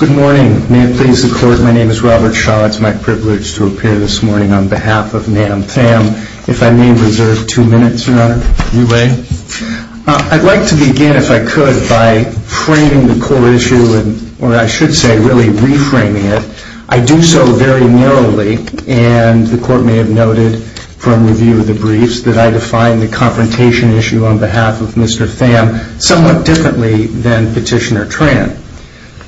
Good morning. May it please the Court, my name is Robert Shaw. It's my privilege to appear this morning on behalf of Nam Tham. If I may reserve two minutes, Your Honor. I'd like to begin, if I could, by framing the core issue, or I should say really reframing it. I do so very narrowly, and the Court may have noted from review of the briefs that I define the confrontation issue on behalf of Mr. Tham somewhat differently than Petitioner Tran.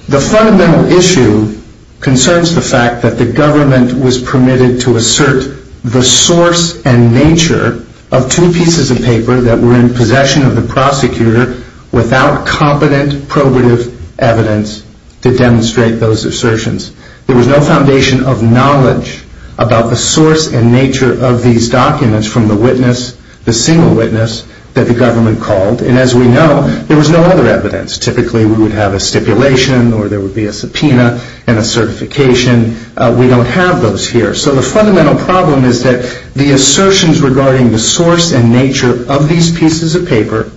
The fundamental issue concerns the fact that the government was permitted to assert the source and nature of two pieces of paper that were in possession of the prosecutor without competent probative evidence to demonstrate those assertions. There was no foundation of knowledge about the source and nature of these documents from the witness, the single witness that the government called. And as we know, there was no other evidence. Typically we would have a stipulation or there would be a subpoena and a certification. We don't have those here. So the fundamental problem is that the assertions regarding the source and nature of these pieces of paper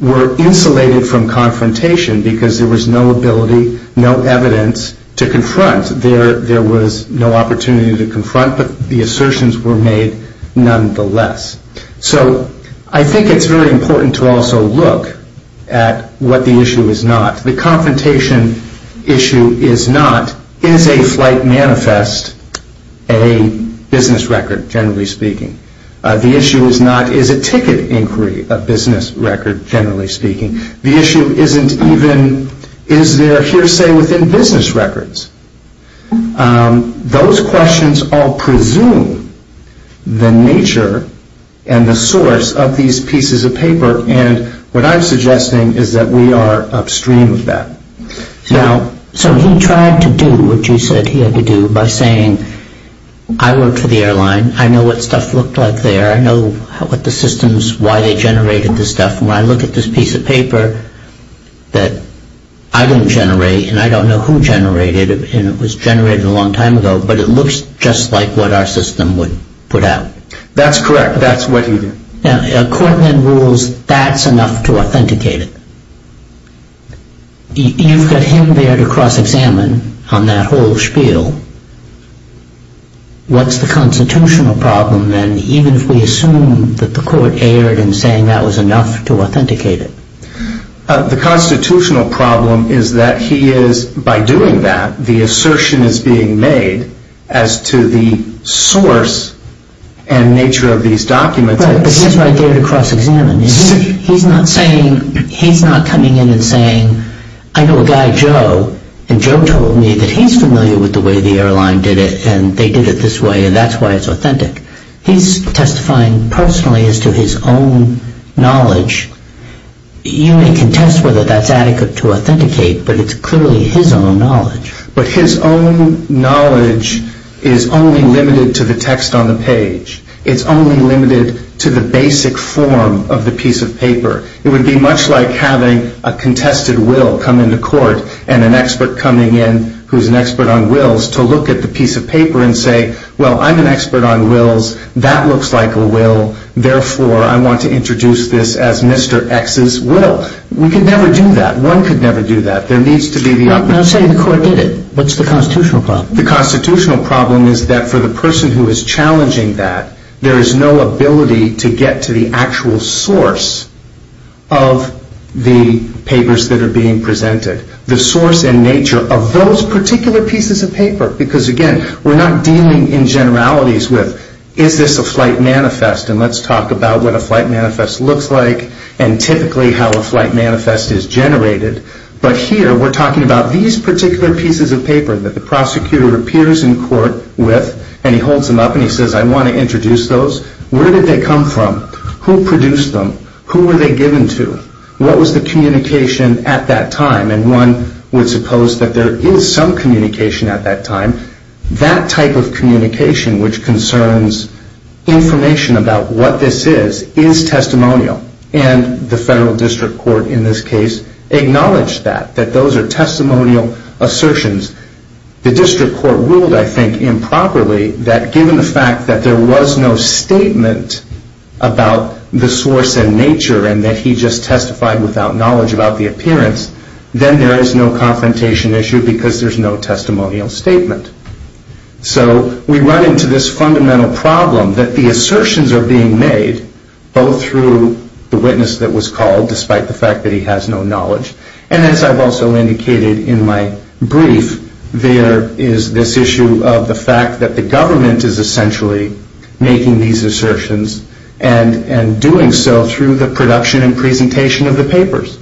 were insulated from confrontation because there was no ability, no evidence to confront. There was no opportunity to confront, but the assertions were made nonetheless. So I think it's very important to also look at what the issue is not. The confrontation issue is not, is a flight manifest a business record, generally speaking. The issue is not, is a ticket inquiry a business record, generally speaking. The issue isn't even is there hearsay within business records. Those questions all presume the nature and the source of these pieces of paper and what I'm suggesting is that we are upstream of that. Now, so he tried to do what you said he had to do by saying, I work for the airline, I know what stuff looked like there, I know what the systems, why they generated this stuff, and when I look at this piece of paper that I didn't generate and I don't know who generated it and it was generated a long time ago, but it looks just like what our system would put out. That's correct. That's what he did. Now, court then rules that's enough to authenticate it. You've got him there to cross-examine on that whole spiel. What's the constitutional problem then, even if we assume that the court erred in saying that was enough to authenticate it? The constitutional problem is that he is, by doing that, the assertion is being made as to the source and nature of these documents. Right, but he's right there to cross-examine. He's not saying, he's not coming in and saying, I know a guy, Joe, and Joe told me that he's familiar with the way the airline did it and they did it this way and that's why it's authentic. He's testifying personally as to his own knowledge. You may contest whether that's adequate to authenticate, but it's clearly his own knowledge. But his own knowledge is only limited to the text on the page. It's only limited to the will come into court and an expert coming in who's an expert on wills to look at the piece of paper and say, well, I'm an expert on wills. That looks like a will. Therefore, I want to introduce this as Mr. X's will. We could never do that. One could never do that. There needs to be the... I'm not saying the court did it. What's the constitutional problem? The constitutional problem is that for the person who is challenging that, there is no ability to get to the actual source of the papers that are being presented. The source and nature of those particular pieces of paper. Because again, we're not dealing in generalities with is this a flight manifest and let's talk about what a flight manifest looks like and typically how a flight manifest is generated. But here, we're talking about these particular pieces of paper that the prosecutor appears in court with and he holds them up and he introduces those. Where did they come from? Who produced them? Who were they given to? What was the communication at that time? And one would suppose that there is some communication at that time. That type of communication, which concerns information about what this is, is testimonial. And the federal district court in this case acknowledged that, that those are testimonial assertions. The district court ruled, I think, improperly that given the fact that there was no statement about the source and nature and that he just testified without knowledge about the appearance, then there is no confrontation issue because there's no testimonial statement. So we run into this fundamental problem that the assertions are being made, both through the witness that was called, despite the fact that he has no knowledge. And as I've also indicated in my brief, there is this issue of the fact that the government is essentially making these assertions and doing so through the production and presentation of the papers.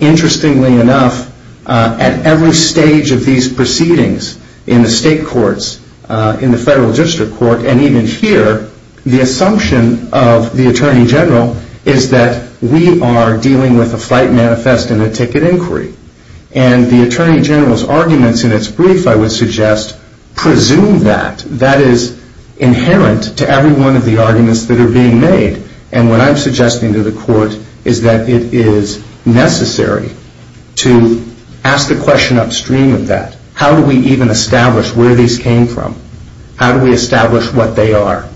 Interestingly enough, at every stage of these proceedings in the state courts, in the federal district court, and even here, the assumption of the Attorney General is that we are dealing with a flight manifest and a ticket inquiry. And the Attorney General's arguments in its brief, I would suggest, presume that. That is inherent to every one of the arguments that are being made. And what I'm suggesting to the court is that it is necessary to ask the question upstream of that. How do we even establish where these came from? How do we establish what they are?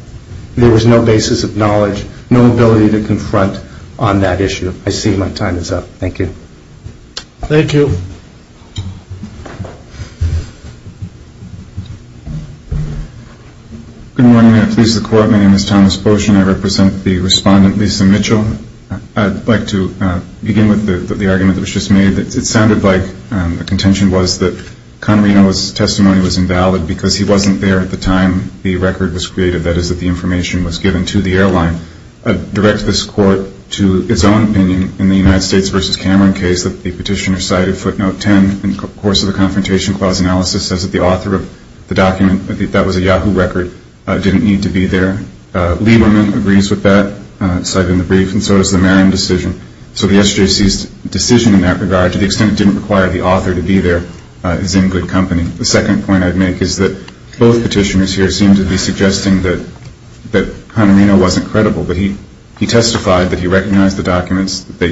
There was no basis of knowledge, no ability to confront on that issue. I see my time is up. Thank you. Thank you. Good morning. I please the Court. My name is Thomas Boshin. I represent the respondent, Lisa Mitchell. I'd like to begin with the argument that was just made. It sounded like the contention was that Conorino's testimony was invalid because he wasn't there at the time the record was created, that is, that the information was given to the airline. I direct this Court to its own opinion in the United States v. Cameron case that the petitioner cited footnote 10 in the course of the confrontation clause analysis says that the author of the document, that was a Yahoo record, didn't need to be there. Lieberman agrees with that, cited in the brief, and so does the Merrim decision. So the SJC's decision in that regard, to the extent it didn't require the author to be there, is in good company. The second point I'd make is that both petitioners here seem to be suggesting that Conorino wasn't credible. He testified that he recognized the documents, the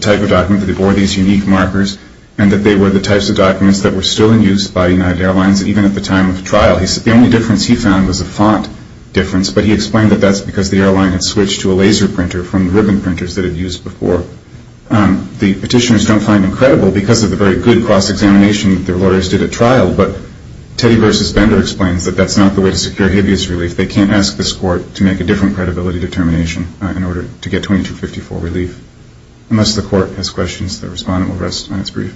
type of document, that they bore these unique markers, and that they were the types of documents that were still in use by United Airlines even at the time of trial. The only difference he found was a font difference, but he explained that that's because the airline had switched to a laser printer from the ribbon printers that it used before. The petitioners don't find him credible because of the very good cross-examination that their lawyers did at United Airlines, that that's not the way to secure habeas relief. They can't ask this court to make a different credibility determination in order to get 2254 relief. Unless the court has questions, the respondent will rest on its brief.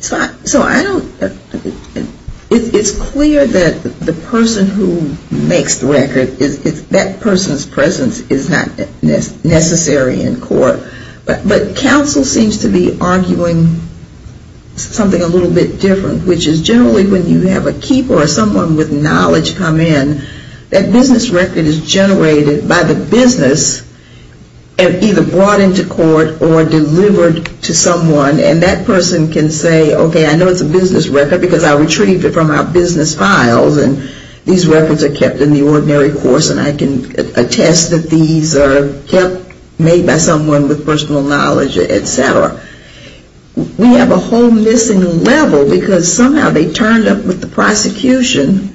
So I don't – it's clear that the person who makes the record, that person's presence is not necessary in court, but counsel seems to be arguing something a little bit different, which is generally when you have a keeper or someone with knowledge come in, that business record is generated by the business and either brought into court or delivered to someone, and that person can say, okay, I know it's a business record because I retrieved it from our business files, and these records are kept in the ordinary course, and I can attest that these are kept, made by someone with personal knowledge, et cetera. We have a whole business record. And so it's not a missing level because somehow they turned up with the prosecution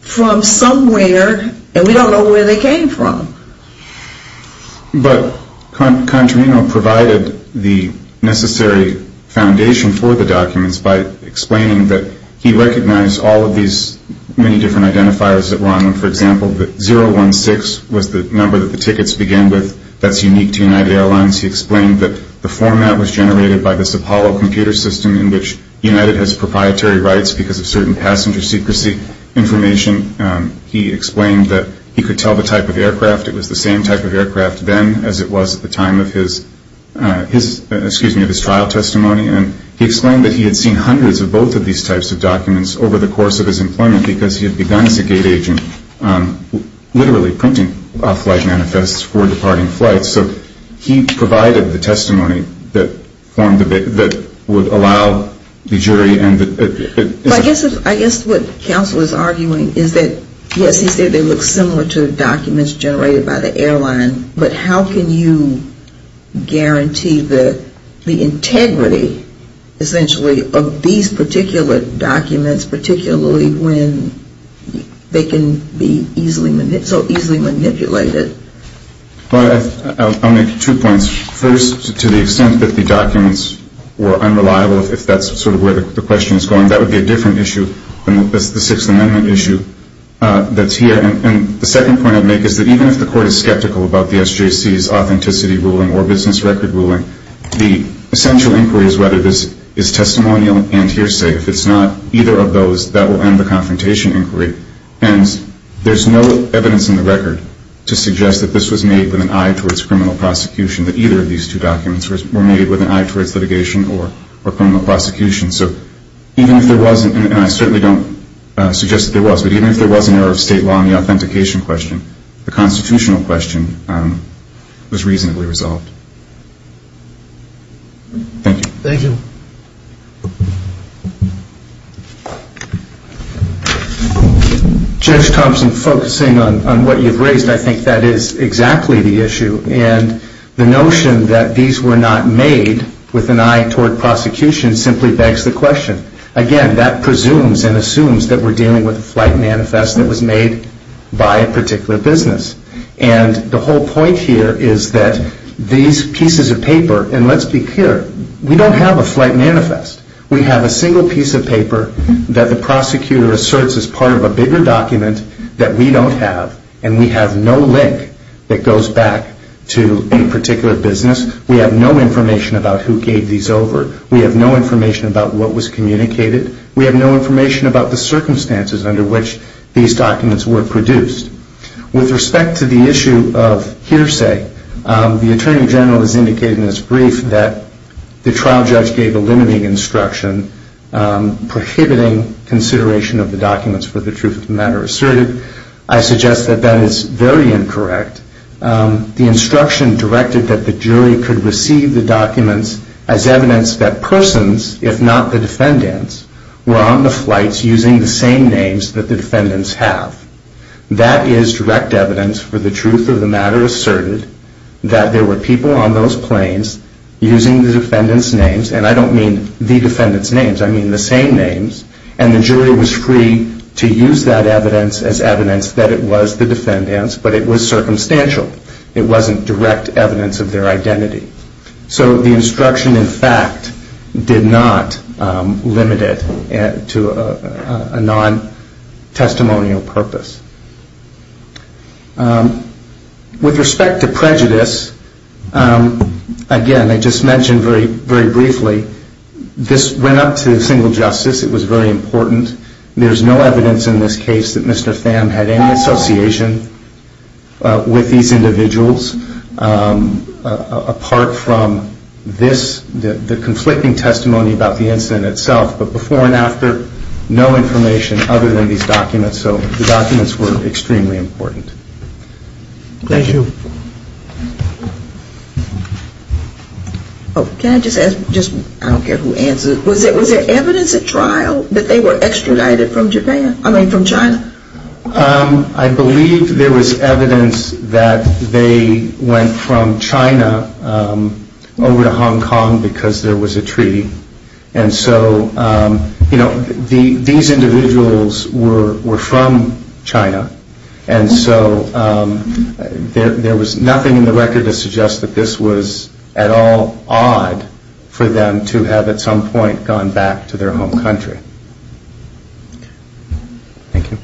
from somewhere and we don't know where they came from. But Contrino provided the necessary foundation for the documents by explaining that he recognized all of these many different identifiers that were on them. For example, that 016 was the number that the tickets begin with that's unique to United Airlines. He explained that the format was generated by this Apollo computer system in which United has proprietary rights because of certain passenger secrecy information. He explained that he could tell the type of aircraft. It was the same type of aircraft then as it was at the time of his trial testimony, and he explained that he had seen hundreds of both of these types of documents over the course of his employment because he had begun as a gate agent literally printing off-flight information that would allow the jury and the... I guess what counsel is arguing is that yes, he said they look similar to the documents generated by the airline, but how can you guarantee the integrity essentially of these particular documents, particularly when they can be so easily manipulated? I'll make two points. First, to the extent that the documents were unreliable, if that's sort of where the question is going, that would be a different issue than the Sixth Amendment issue that's here. And the second point I'd make is that even if the court is skeptical about the SJC's authenticity ruling or business record ruling, the essential inquiry is whether this is testimonial and hearsay. If it's not either of those, that will end up being a confrontation inquiry. Hence, there's no evidence in the record to suggest that this was made with an eye towards criminal prosecution, that either of these two documents were made with an eye towards litigation or criminal prosecution. So even if there wasn't, and I certainly don't suggest that there was, but even if there was an error of state law in the authentication question, the constitutional question was reasonably resolved. Thank you. Judge Thompson, focusing on what you've raised, I think that is exactly the issue. And the notion that these were not made with an eye toward prosecution simply begs the question. Again, that presumes and assumes that we're dealing with a flight manifest that was made by a particular business. And the whole point here is that these pieces of paper, and let's be clear, we don't have a flight manifest. We have a single piece of paper that the prosecutor asserts is part of a bigger document that we don't have, and we have no link that goes back to a particular business. We have no information about who gave these over. We have no information about what was communicated. We have no information about the circumstances under which these documents were produced. With respect to the issue of hearsay, the trial judge gave a limiting instruction prohibiting consideration of the documents for the truth of the matter asserted. I suggest that that is very incorrect. The instruction directed that the jury could receive the documents as evidence that persons, if not the defendants, were on the flights using the same names that the defendants have. That is direct evidence for the truth of the matter asserted that there were people on those planes using the defendants' names, and I don't mean the defendants' names. I mean the same names, and the jury was free to use that evidence as evidence that it was the defendants, but it was circumstantial. It wasn't direct evidence of their identity. So the instruction, in fact, did not limit it to a non-testimonial purpose. With respect to prejudice, again, I just mentioned very briefly, this went up to single justice. It was very important. There is no evidence in this case that Mr. Tham had any association with these individuals apart from the conflicting testimony about the incident itself, but before and after, no information other than these documents. So the documents were extremely important. Thank you. Can I just ask, I don't care who answers, was there evidence at trial that they were extradited from Japan, I mean from China? I believe there was evidence that they went from China over to Hong Kong because there was nothing in the record to suggest that this was at all odd for them to have at some point gone back to their home country. Thank you.